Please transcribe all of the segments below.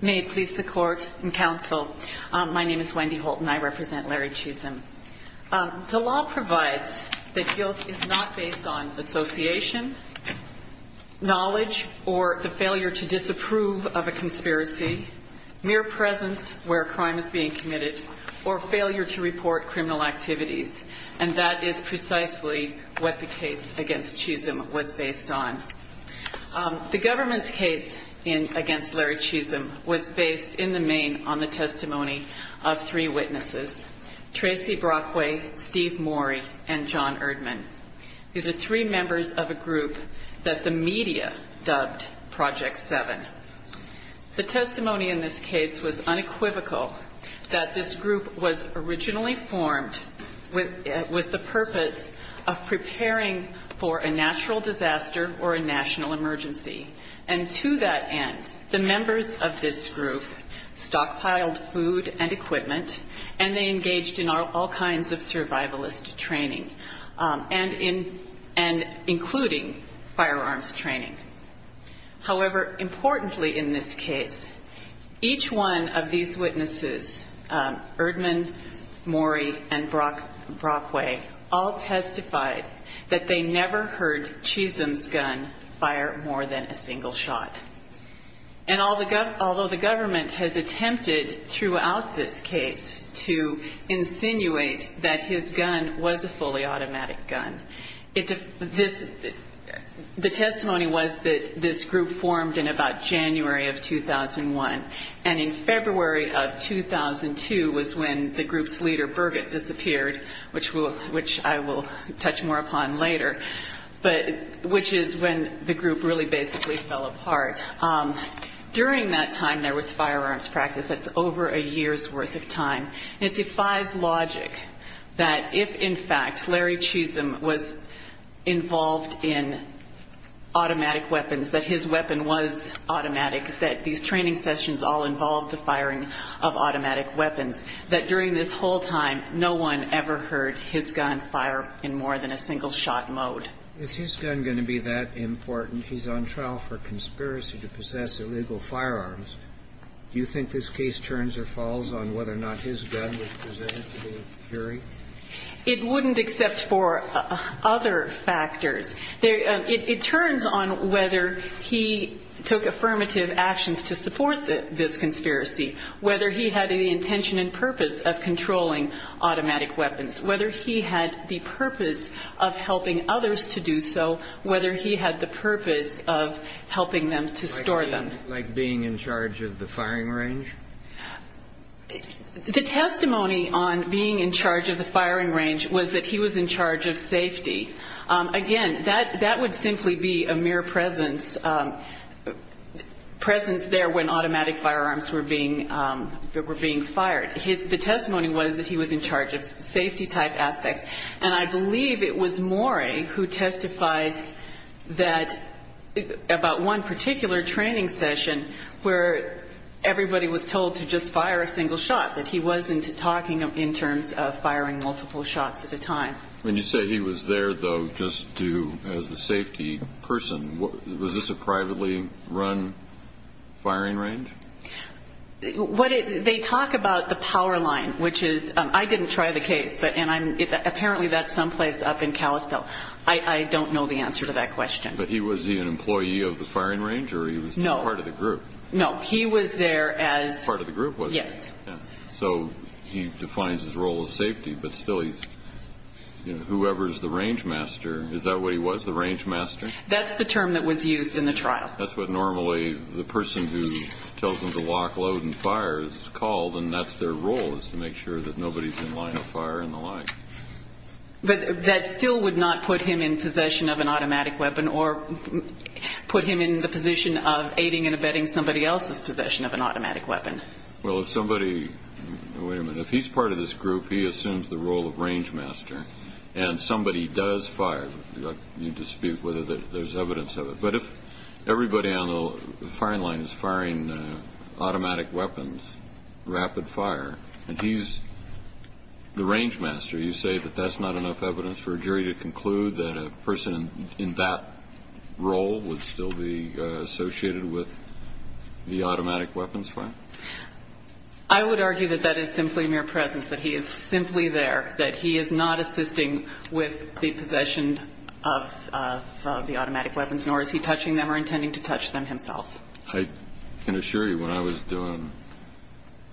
May it please the court and counsel, my name is Wendy Holt and I represent Larry Chezem. The law provides that guilt is not based on association, knowledge, or the failure to disapprove of a conspiracy, mere presence where a crime is being committed, or failure to report criminal activities. And that is precisely what the case against Chezem was based on. The government's case against Larry Chezem was based in the main on the testimony of three witnesses, Tracy Brockway, Steve Morey, and John Erdman. These are three members of a group that the media dubbed Project 7. The testimony in this case was unequivocal that this group was originally formed with the purpose of preparing for a natural disaster or a national emergency. And to that end, the members of this group stockpiled food and equipment, and they engaged in all kinds of survivalist training, including firearms training. However, importantly in this case, each one of these witnesses, Erdman, Morey, and Brockway, all testified that they never heard Chezem's gun fire more than a single shot. And although the government has attempted throughout this case to insinuate that his gun was a fully automatic gun, the testimony was that this group formed in about January of 2001. And in February of 2002 was when the group's leader, Burgett, disappeared, which I will touch more upon later, which is when the group really basically fell apart. During that time there was firearms practice. That's over a year's worth of time. And it defies logic that if, in fact, Larry Chezem was involved in automatic weapons, that his weapon was automatic, that these training sessions all involved the firing of automatic weapons, that during this whole time no one ever heard his gun fire in more than a single shot mode. Is his gun going to be that important? He's on trial for conspiracy to possess illegal firearms. Do you think this case turns or falls on whether or not his gun was presented to the jury? It wouldn't except for other factors. It turns on whether he took affirmative actions to support this conspiracy, whether he had any intention and purpose of controlling automatic weapons, whether he had the purpose of helping others to do so, whether he had the purpose of helping them to store them. Like being in charge of the firing range? The testimony on being in charge of the firing range was that he was in charge of safety. Again, that would simply be a mere presence there when automatic firearms were being fired. The testimony was that he was in charge of safety-type aspects. And I believe it was Morey who testified about one particular training session where everybody was told to just fire a single shot, that he wasn't talking in terms of firing multiple shots at a time. When you say he was there, though, just as the safety person, was this a privately run firing range? They talk about the power line, which is, I didn't try the case, and apparently that's someplace up in Kalispell. I don't know the answer to that question. But was he an employee of the firing range or was he part of the group? No, he was there as- Part of the group, was he? Yes. So he defines his role as safety, but still he's whoever's the range master. Is that what he was, the range master? That's the term that was used in the trial. That's what normally the person who tells them to lock, load, and fire is called, and that's their role is to make sure that nobody's in line to fire and the like. But that still would not put him in possession of an automatic weapon or put him in the position of aiding and abetting somebody else's possession of an automatic weapon. Well, if somebody-wait a minute. If he's part of this group, he assumes the role of range master. And somebody does fire, you dispute whether there's evidence of it. But if everybody on the firing line is firing automatic weapons, rapid fire, and he's the range master, you say that that's not enough evidence for a jury to conclude that a person in that role would still be associated with the automatic weapons fire? I would argue that that is simply mere presence, that he is simply there, that he is not assisting with the possession of the automatic weapons, nor is he touching them or intending to touch them himself. I can assure you when I was doing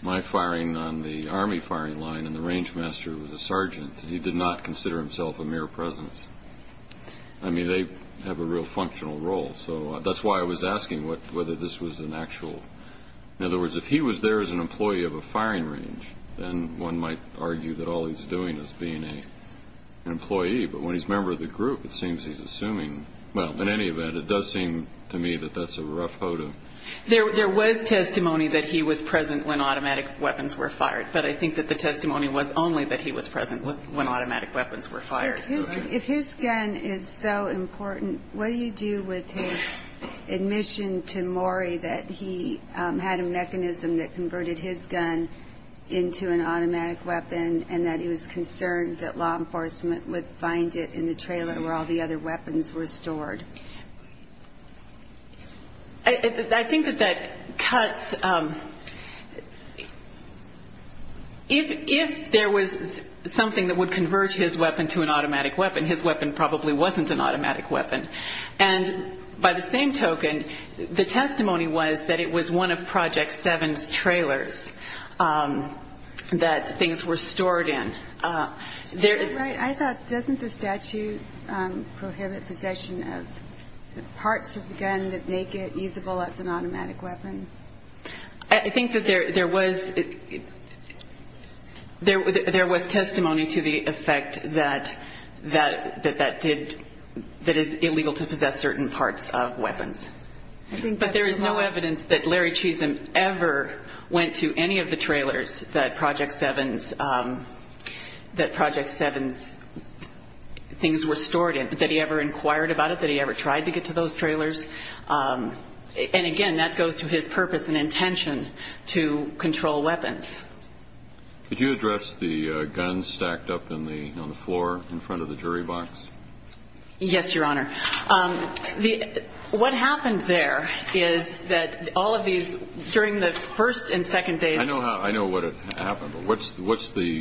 my firing on the Army firing line and the range master was a sergeant, he did not consider himself a mere presence. I mean, they have a real functional role. So that's why I was asking whether this was an actual-in other words, if he was there as an employee of a firing range, then one might argue that all he's doing is being an employee. But when he's a member of the group, it seems he's assuming. Well, in any event, it does seem to me that that's a rough photo. There was testimony that he was present when automatic weapons were fired. But I think that the testimony was only that he was present when automatic weapons were fired. If his gun is so important, what do you do with his admission to Maury that he had a mechanism that converted his gun into an automatic weapon and that he was concerned that law enforcement would find it in the trailer where all the other weapons were stored? I think that that cuts. If there was something that would converge his weapon to an automatic weapon, his weapon probably wasn't an automatic weapon. And by the same token, the testimony was that it was one of Project 7's trailers that things were stored in. I thought, doesn't the statute prohibit possession of parts of the gun that make it usable as an automatic weapon? I think that there was testimony to the effect that that is illegal to possess certain parts of weapons. But there is no evidence that Larry Chisholm ever went to any of the trailers that Project 7's things were stored in, that he ever inquired about it, that he ever tried to get to those trailers. And, again, that goes to his purpose and intention to control weapons. Did you address the guns stacked up on the floor in front of the jury box? Yes, Your Honor. What happened there is that all of these, during the first and second days- I know what happened, but what's the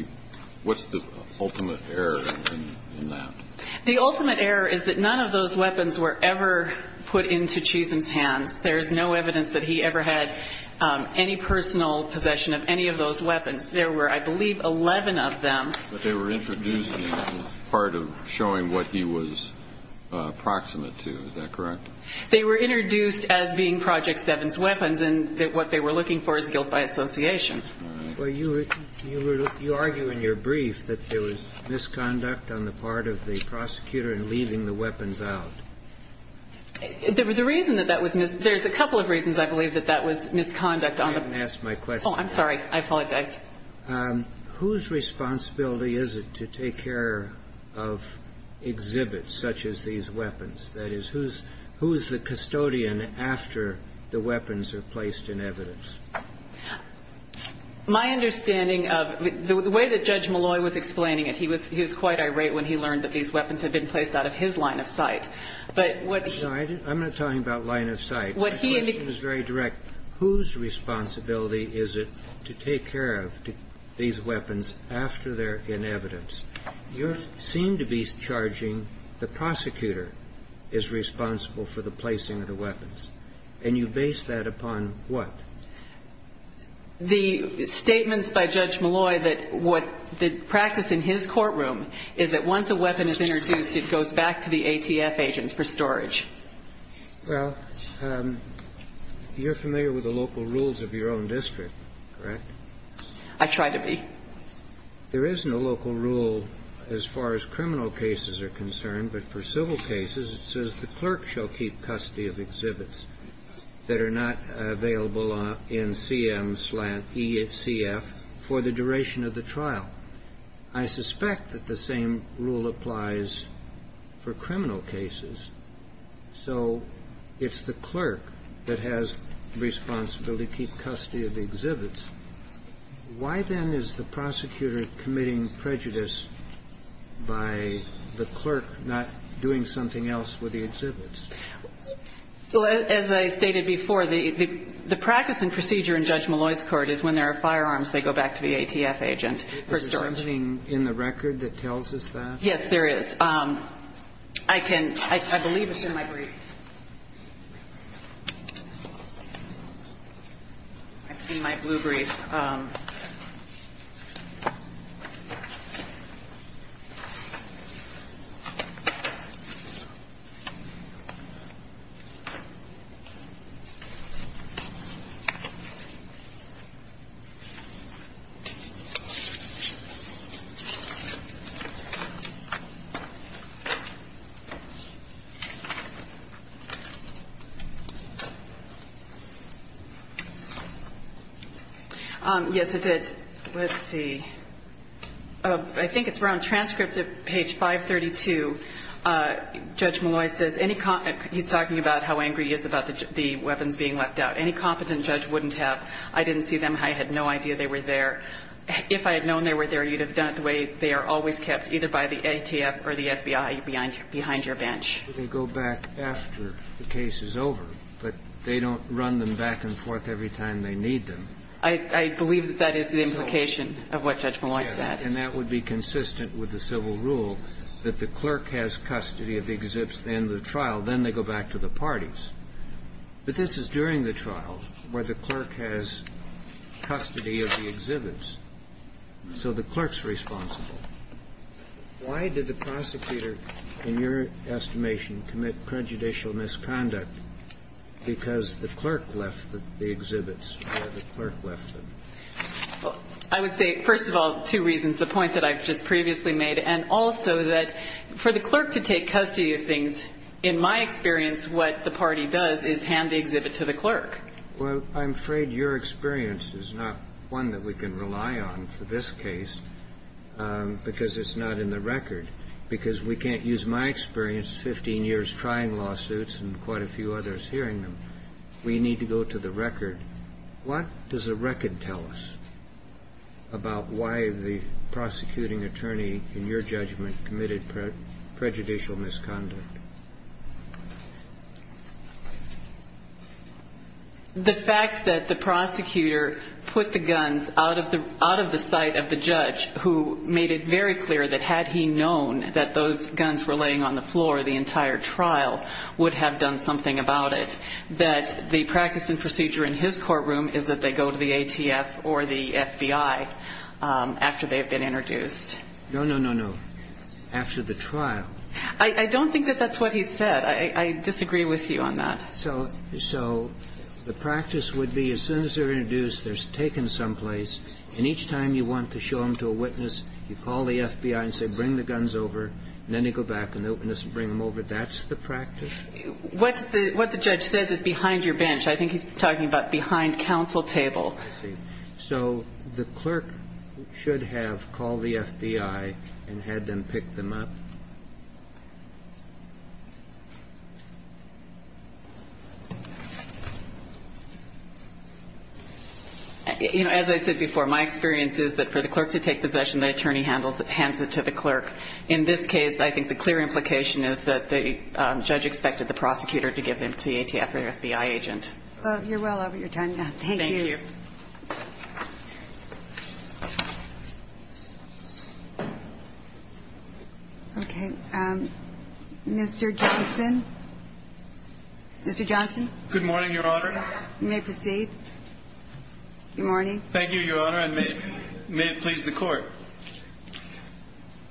ultimate error in that? The ultimate error is that none of those weapons were ever put into Chisholm's hands. There is no evidence that he ever had any personal possession of any of those weapons. There were, I believe, 11 of them. But they were introduced as part of showing what he was proximate to. Is that correct? They were introduced as being Project 7's weapons, and what they were looking for is guilt by association. Well, you argue in your brief that there was misconduct on the part of the prosecutor in leaving the weapons out. There's a couple of reasons I believe that that was misconduct. You haven't asked my question. Oh, I'm sorry. I apologize. Whose responsibility is it to take care of exhibits such as these weapons? That is, who is the custodian after the weapons are placed in evidence? My understanding of the way that Judge Malloy was explaining it, he was quite irate when he learned that these weapons had been placed out of his line of sight. But what he- No, I'm not talking about line of sight. My question is very direct. Whose responsibility is it to take care of these weapons after they're in evidence? You seem to be charging the prosecutor is responsible for the placing of the weapons. And you base that upon what? The statements by Judge Malloy that what the practice in his courtroom is that once a weapon is introduced, it goes back to the ATF agents for storage. Well, you're familiar with the local rules of your own district, correct? I try to be. There isn't a local rule as far as criminal cases are concerned. But for civil cases, it says the clerk shall keep custody of exhibits that are not available in CM slash ECF for the duration of the trial. I suspect that the same rule applies for criminal cases. So it's the clerk that has responsibility to keep custody of the exhibits. Why, then, is the prosecutor committing prejudice by the clerk not doing something else with the exhibits? Well, as I stated before, the practice and procedure in Judge Malloy's court is when there are firearms, they go back to the ATF agent for storage. Is there something in the record that tells us that? Yes, there is. I can – I believe it's in my brief. It's in my blue brief. Yes, it is. Let's see. I think it's around transcript of page 532. Judge Malloy says any – he's talking about how angry he is about the weapons being left out. Any competent judge wouldn't have. I didn't see them. I had no idea they were there. If I had known they were there, you'd have done it the way they are always kept, either by the ATF or the FBI behind your bench. They go back after the case is over, but they don't run them back and forth every time they need them. I believe that that is the implication of what Judge Malloy said. And that would be consistent with the civil rule, that the clerk has custody of the exhibits at the end of the trial, then they go back to the parties. But this is during the trial where the clerk has custody of the exhibits. So the clerk's responsible. Why did the prosecutor, in your estimation, commit prejudicial misconduct because the clerk left the exhibits or the clerk left them? Well, I would say, first of all, two reasons, the point that I've just previously made, and also that for the clerk to take custody of things, in my experience, what the party does is hand the exhibit to the clerk. Well, I'm afraid your experience is not one that we can rely on for this case because it's not in the record, because we can't use my experience, 15 years trying lawsuits and quite a few others hearing them. We need to go to the record. What does the record tell us about why the prosecuting attorney, in your judgment, committed prejudicial misconduct? The fact that the prosecutor put the guns out of the sight of the judge, who made it very clear that had he known that those guns were laying on the floor the entire trial would have done something about it, that the practice and procedure in his courtroom is that they go to the ATF or the FBI after they have been introduced. No, no, no, no. After the trial. I don't think that that's what he said. I disagree with you on that. So the practice would be as soon as they're introduced, they're taken someplace, and each time you want to show them to a witness, you call the FBI and say bring the guns over, and then they go back and the witness will bring them over. That's the practice? What the judge says is behind your bench. I think he's talking about behind counsel table. I see. So the clerk should have called the FBI and had them pick them up? You know, as I said before, my experience is that for the clerk to take possession, the attorney handles it, hands it to the clerk. In this case, I think the clear implication is that the judge expected the prosecutor to give them to the ATF or FBI agent. Well, you're well over your time now. Thank you. Thank you. Okay. Mr. Johnson? Mr. Johnson? Good morning, Your Honor. You may proceed. Good morning. Thank you, Your Honor, and may it please the Court.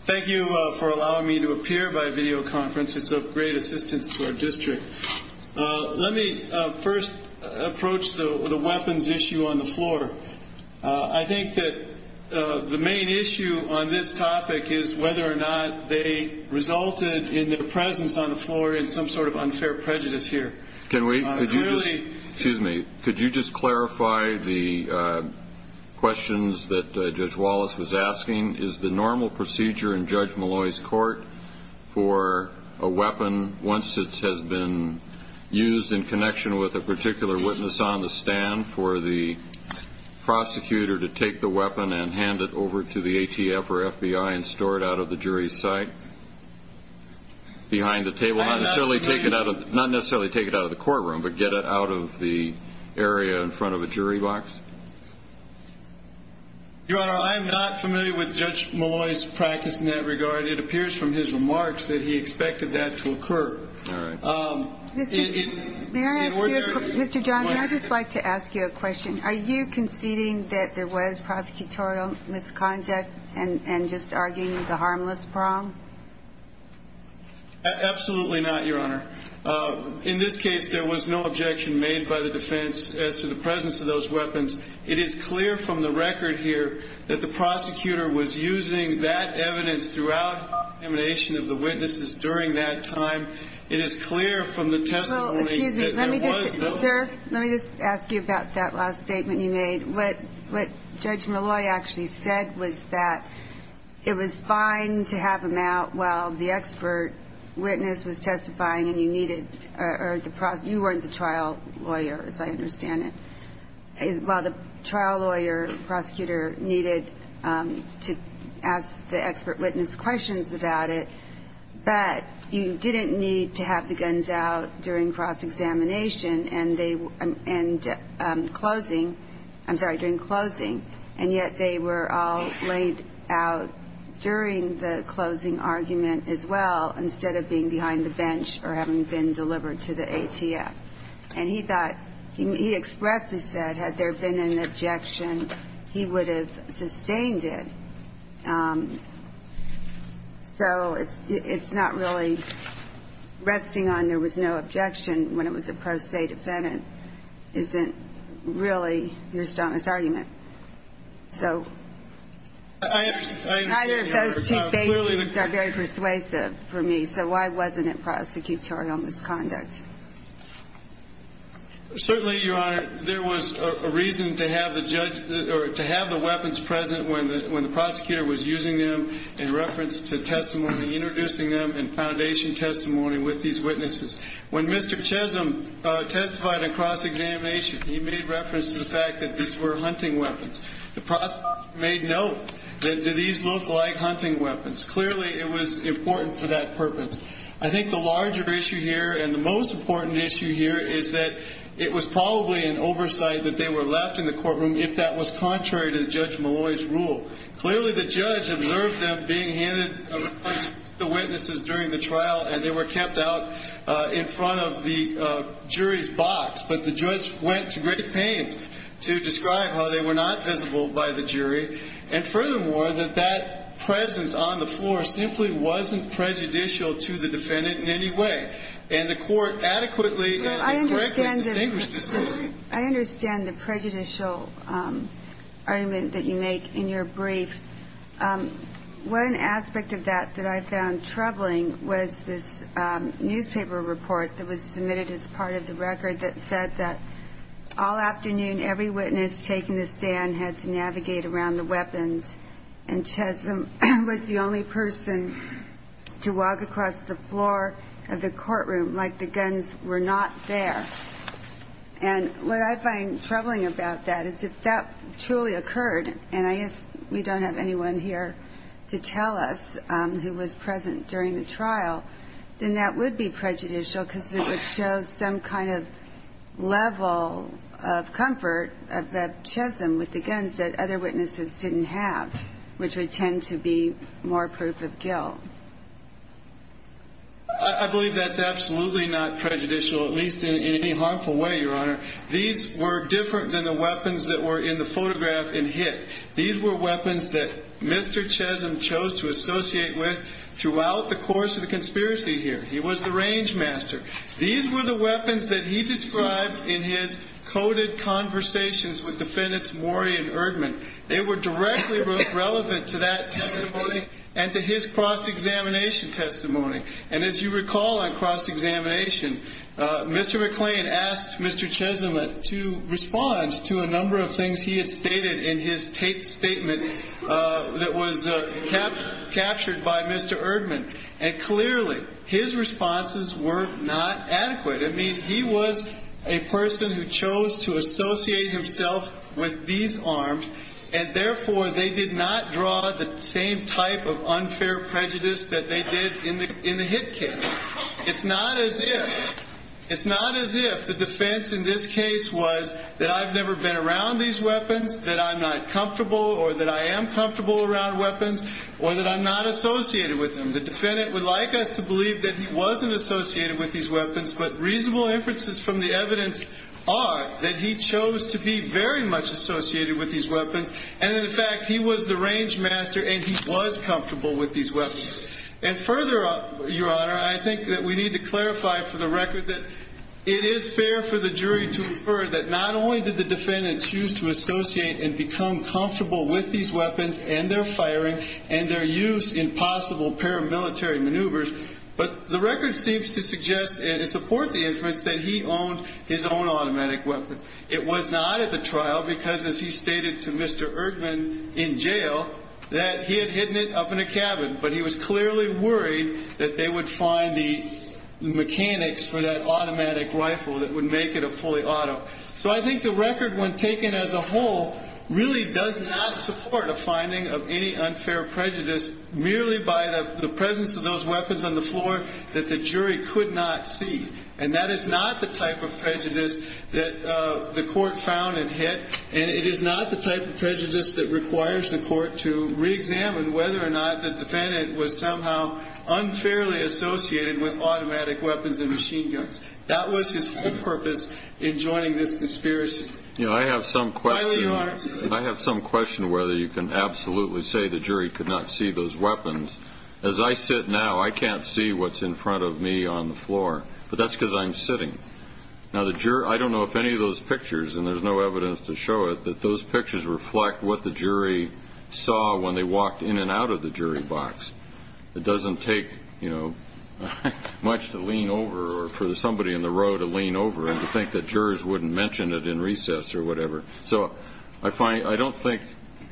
Thank you for allowing me to appear by videoconference. It's of great assistance to our district. Let me first approach the weapons issue on the floor. I think that the main issue on this topic is whether or not they resulted in their presence on the floor in some sort of unfair prejudice here. Excuse me. Could you just clarify the questions that Judge Wallace was asking? Is the normal procedure in Judge Malloy's court for a weapon, once it has been used in connection with a particular witness on the stand, for the prosecutor to take the weapon and hand it over to the ATF or FBI and store it out of the jury's sight behind the table? Not necessarily take it out of the courtroom, but get it out of the area in front of a jury box? Your Honor, I am not familiar with Judge Malloy's practice in that regard. It appears from his remarks that he expected that to occur. All right. Mr. Johnson, I'd just like to ask you a question. Are you conceding that there was prosecutorial misconduct and just arguing the harmless prong? Absolutely not, Your Honor. In this case, there was no objection made by the defense as to the presence of those weapons. It is clear from the record here that the prosecutor was using that evidence throughout the examination of the witnesses during that time. It is clear from the testimony that there was no— Well, excuse me. Sir, let me just ask you about that last statement you made. What Judge Malloy actually said was that it was fine to have them out while the expert witness was testifying and you needed— or you weren't the trial lawyer, as I understand it— while the trial lawyer prosecutor needed to ask the expert witness questions about it, but you didn't need to have the guns out during cross-examination and they—and closing—I'm sorry, during closing, and yet they were all laid out during the closing argument as well instead of being behind the bench or having been delivered to the ATF. And he thought—he expresses that had there been an objection, he would have sustained it. So it's not really—resting on there was no objection when it was a pro se defendant isn't really your strongest argument. So either of those two bases are very persuasive for me. So why wasn't it prosecutorial misconduct? Certainly, Your Honor, there was a reason to have the weapons present when the prosecutor was using them in reference to testimony, introducing them in foundation testimony with these witnesses. When Mr. Chesum testified in cross-examination, he made reference to the fact that these were hunting weapons. The prosecutor made note that these look like hunting weapons. Clearly, it was important for that purpose. I think the larger issue here and the most important issue here is that it was probably an oversight that they were left in the courtroom if that was contrary to Judge Malloy's rule. Clearly, the judge observed them being handed the witnesses during the trial and they were kept out in front of the jury's box. But the judge went to great pains to describe how they were not visible by the jury. And furthermore, that that presence on the floor simply wasn't prejudicial to the defendant in any way. And the court adequately and correctly distinguished itself. I understand the prejudicial argument that you make in your brief. One aspect of that that I found troubling was this newspaper report that was submitted as part of the record that said that all afternoon every witness taking the stand had to navigate around the weapons and Chesum was the only person to walk across the floor of the courtroom like the guns were not there. And what I find troubling about that is if that truly occurred, and I guess we don't have anyone here to tell us who was present during the trial, then that would be prejudicial because it would show some kind of level of comfort of Chesum with the guns that other witnesses didn't have, which would tend to be more proof of guilt. I believe that's absolutely not prejudicial, at least in any harmful way, Your Honor. These were different than the weapons that were in the photograph in HIT. These were weapons that Mr. Chesum chose to associate with throughout the course of the conspiracy here. He was the range master. These were the weapons that he described in his coded conversations with Defendants Morey and Erdman. They were directly relevant to that testimony and to his cross-examination testimony. And as you recall on cross-examination, Mr. McLean asked Mr. Chesum to respond to a number of things he had stated in his statement that was captured by Mr. Erdman, and clearly his responses were not adequate. I mean, he was a person who chose to associate himself with these arms, and therefore they did not draw the same type of unfair prejudice that they did in the HIT case. It's not as if the defense in this case was that I've never been around these weapons, that I'm not comfortable or that I am comfortable around weapons, or that I'm not associated with them. The defendant would like us to believe that he wasn't associated with these weapons, but reasonable inferences from the evidence are that he chose to be very much associated with these weapons, and in fact he was the range master and he was comfortable with these weapons. And further, Your Honor, I think that we need to clarify for the record that it is fair for the jury to infer that not only did the defendant choose to associate and become comfortable with these weapons and their firing and their use in possible paramilitary maneuvers, but the record seems to suggest and support the inference that he owned his own automatic weapon. It was not at the trial because, as he stated to Mr. Erdman in jail, that he had hidden it up in a cabin, but he was clearly worried that they would find the mechanics for that automatic rifle that would make it a fully auto. So I think the record, when taken as a whole, really does not support a finding of any unfair prejudice merely by the presence of those weapons on the floor that the jury could not see. And that is not the type of prejudice that the court found in HIT, and it is not the type of prejudice that requires the court to reexamine whether or not the defendant was somehow unfairly associated with automatic weapons and machine guns. That was his whole purpose in joining this conspiracy. I have some question whether you can absolutely say the jury could not see those weapons. As I sit now, I can't see what's in front of me on the floor, but that's because I'm sitting. Now, I don't know if any of those pictures, and there's no evidence to show it, that those pictures reflect what the jury saw when they walked in and out of the jury box. It doesn't take, you know, much to lean over or for somebody in the row to lean over and to think that jurors wouldn't mention it in recess or whatever. So I don't think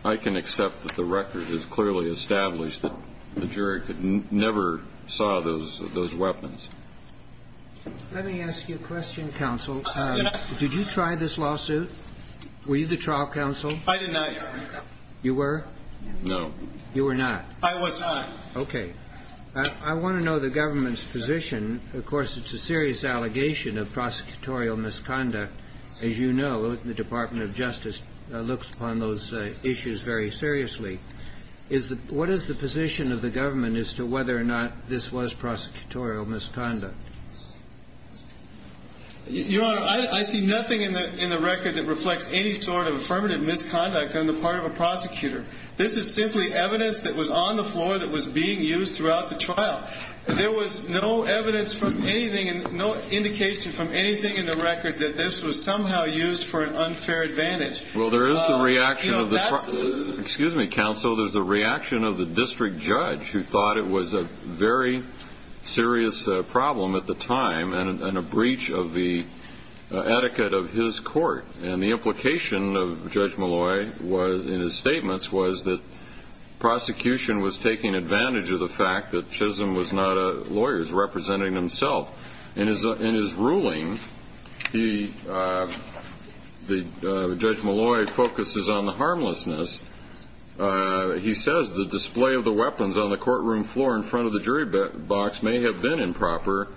I can accept that the record has clearly established that the jury never saw those weapons. Let me ask you a question, counsel. Did you try this lawsuit? Were you the trial counsel? I did not, Your Honor. You were? No. You were not? I was not. Okay. I want to know the government's position. Of course, it's a serious allegation of prosecutorial misconduct. As you know, the Department of Justice looks upon those issues very seriously. What is the position of the government as to whether or not this was prosecutorial misconduct? Your Honor, I see nothing in the record that reflects any sort of affirmative misconduct on the part of a prosecutor. This is simply evidence that was on the floor that was being used throughout the trial. There was no evidence from anything and no indication from anything in the record that this was somehow used for an unfair advantage. Well, there is the reaction of the district judge who thought it was a very serious problem at the time and a breach of the etiquette of his court. And the implication of Judge Malloy in his statements was that prosecution was taking advantage of the fact that Chisholm was not a lawyer. He was representing himself. In his ruling, Judge Malloy focuses on the harmlessness. He says the display of the weapons on the courtroom floor in front of the jury box may have been improper,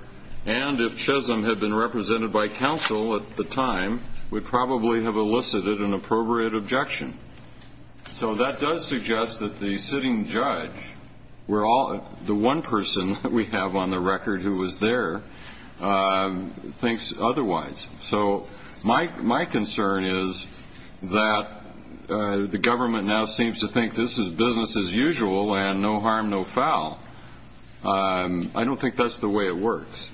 and if Chisholm had been represented by counsel at the time, would probably have elicited an appropriate objection. So that does suggest that the sitting judge, the one person that we have on the record who was there, thinks otherwise. So my concern is that the government now seems to think this is business as usual and no harm, no foul. I don't think that's the way it works.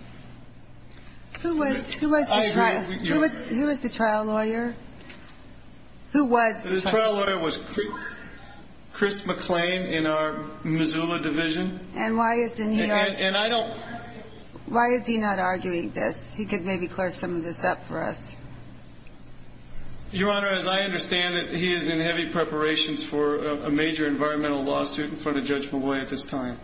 Who was the trial lawyer? The trial lawyer was Chris McClain in our Missoula division. And why is he not arguing this? He could maybe clear some of this up for us. Your Honor, as I understand it, he is in heavy preparations for a major environmental lawsuit in front of Judge Malloy at this time.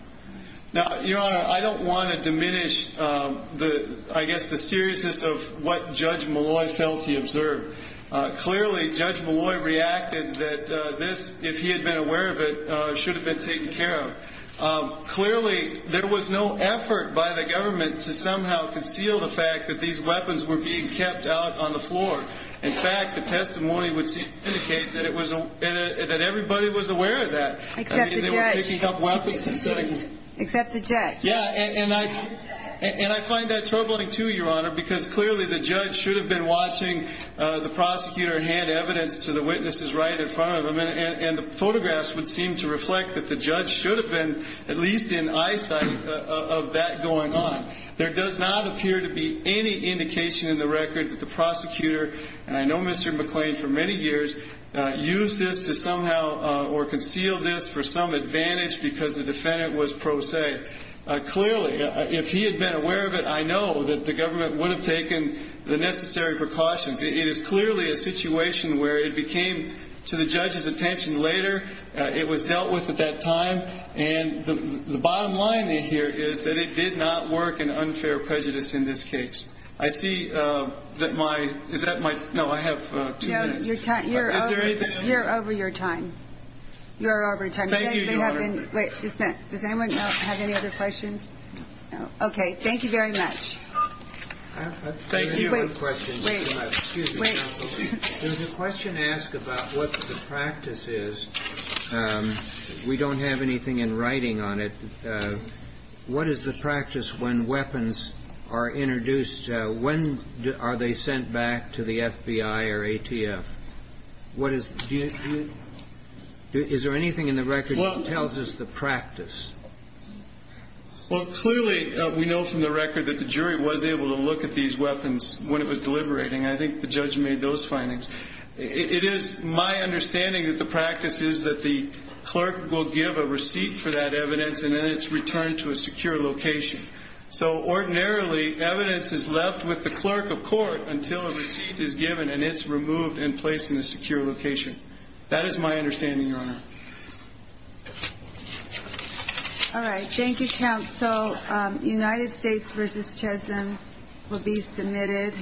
Now, Your Honor, I don't want to diminish, I guess, the seriousness of what Judge Malloy felt he observed. Clearly, Judge Malloy reacted that this, if he had been aware of it, should have been taken care of. Clearly, there was no effort by the government to somehow conceal the fact that these weapons were being kept out on the floor. In fact, the testimony would seem to indicate that everybody was aware of that. Except the judge. Except the judge. Yeah, and I find that troubling, too, Your Honor, because clearly the judge should have been watching the prosecutor hand evidence to the witnesses right in front of him. And the photographs would seem to reflect that the judge should have been at least in eyesight of that going on. There does not appear to be any indication in the record that the prosecutor, and I know Mr. McClain for many years, used this to somehow or concealed this for some advantage because the defendant was pro se. Clearly, if he had been aware of it, I know that the government would have taken the necessary precautions. It is clearly a situation where it became to the judge's attention later. It was dealt with at that time. And the bottom line here is that it did not work. An unfair prejudice in this case. I see that my. Is that my. No, I have your time. You're over your time. You're over time. Thank you. Wait a minute. Does anyone have any other questions? OK. Thank you very much. Thank you. I have a question. There's a question asked about what the practice is. We don't have anything in writing on it. What is the practice when weapons are introduced? When are they sent back to the FBI or ATF? What is it? Is there anything in the record that tells us the practice? Well, clearly, we know from the record that the jury was able to look at these weapons when it was deliberating. I think the judge made those findings. It is my understanding that the practice is that the clerk will give a receipt for that evidence and then it's returned to a secure location. So ordinarily, evidence is left with the clerk of court until a receipt is given and it's removed and placed in a secure location. That is my understanding, Your Honor. All right. Thank you, counsel. United States v. Chisholm will be submitted.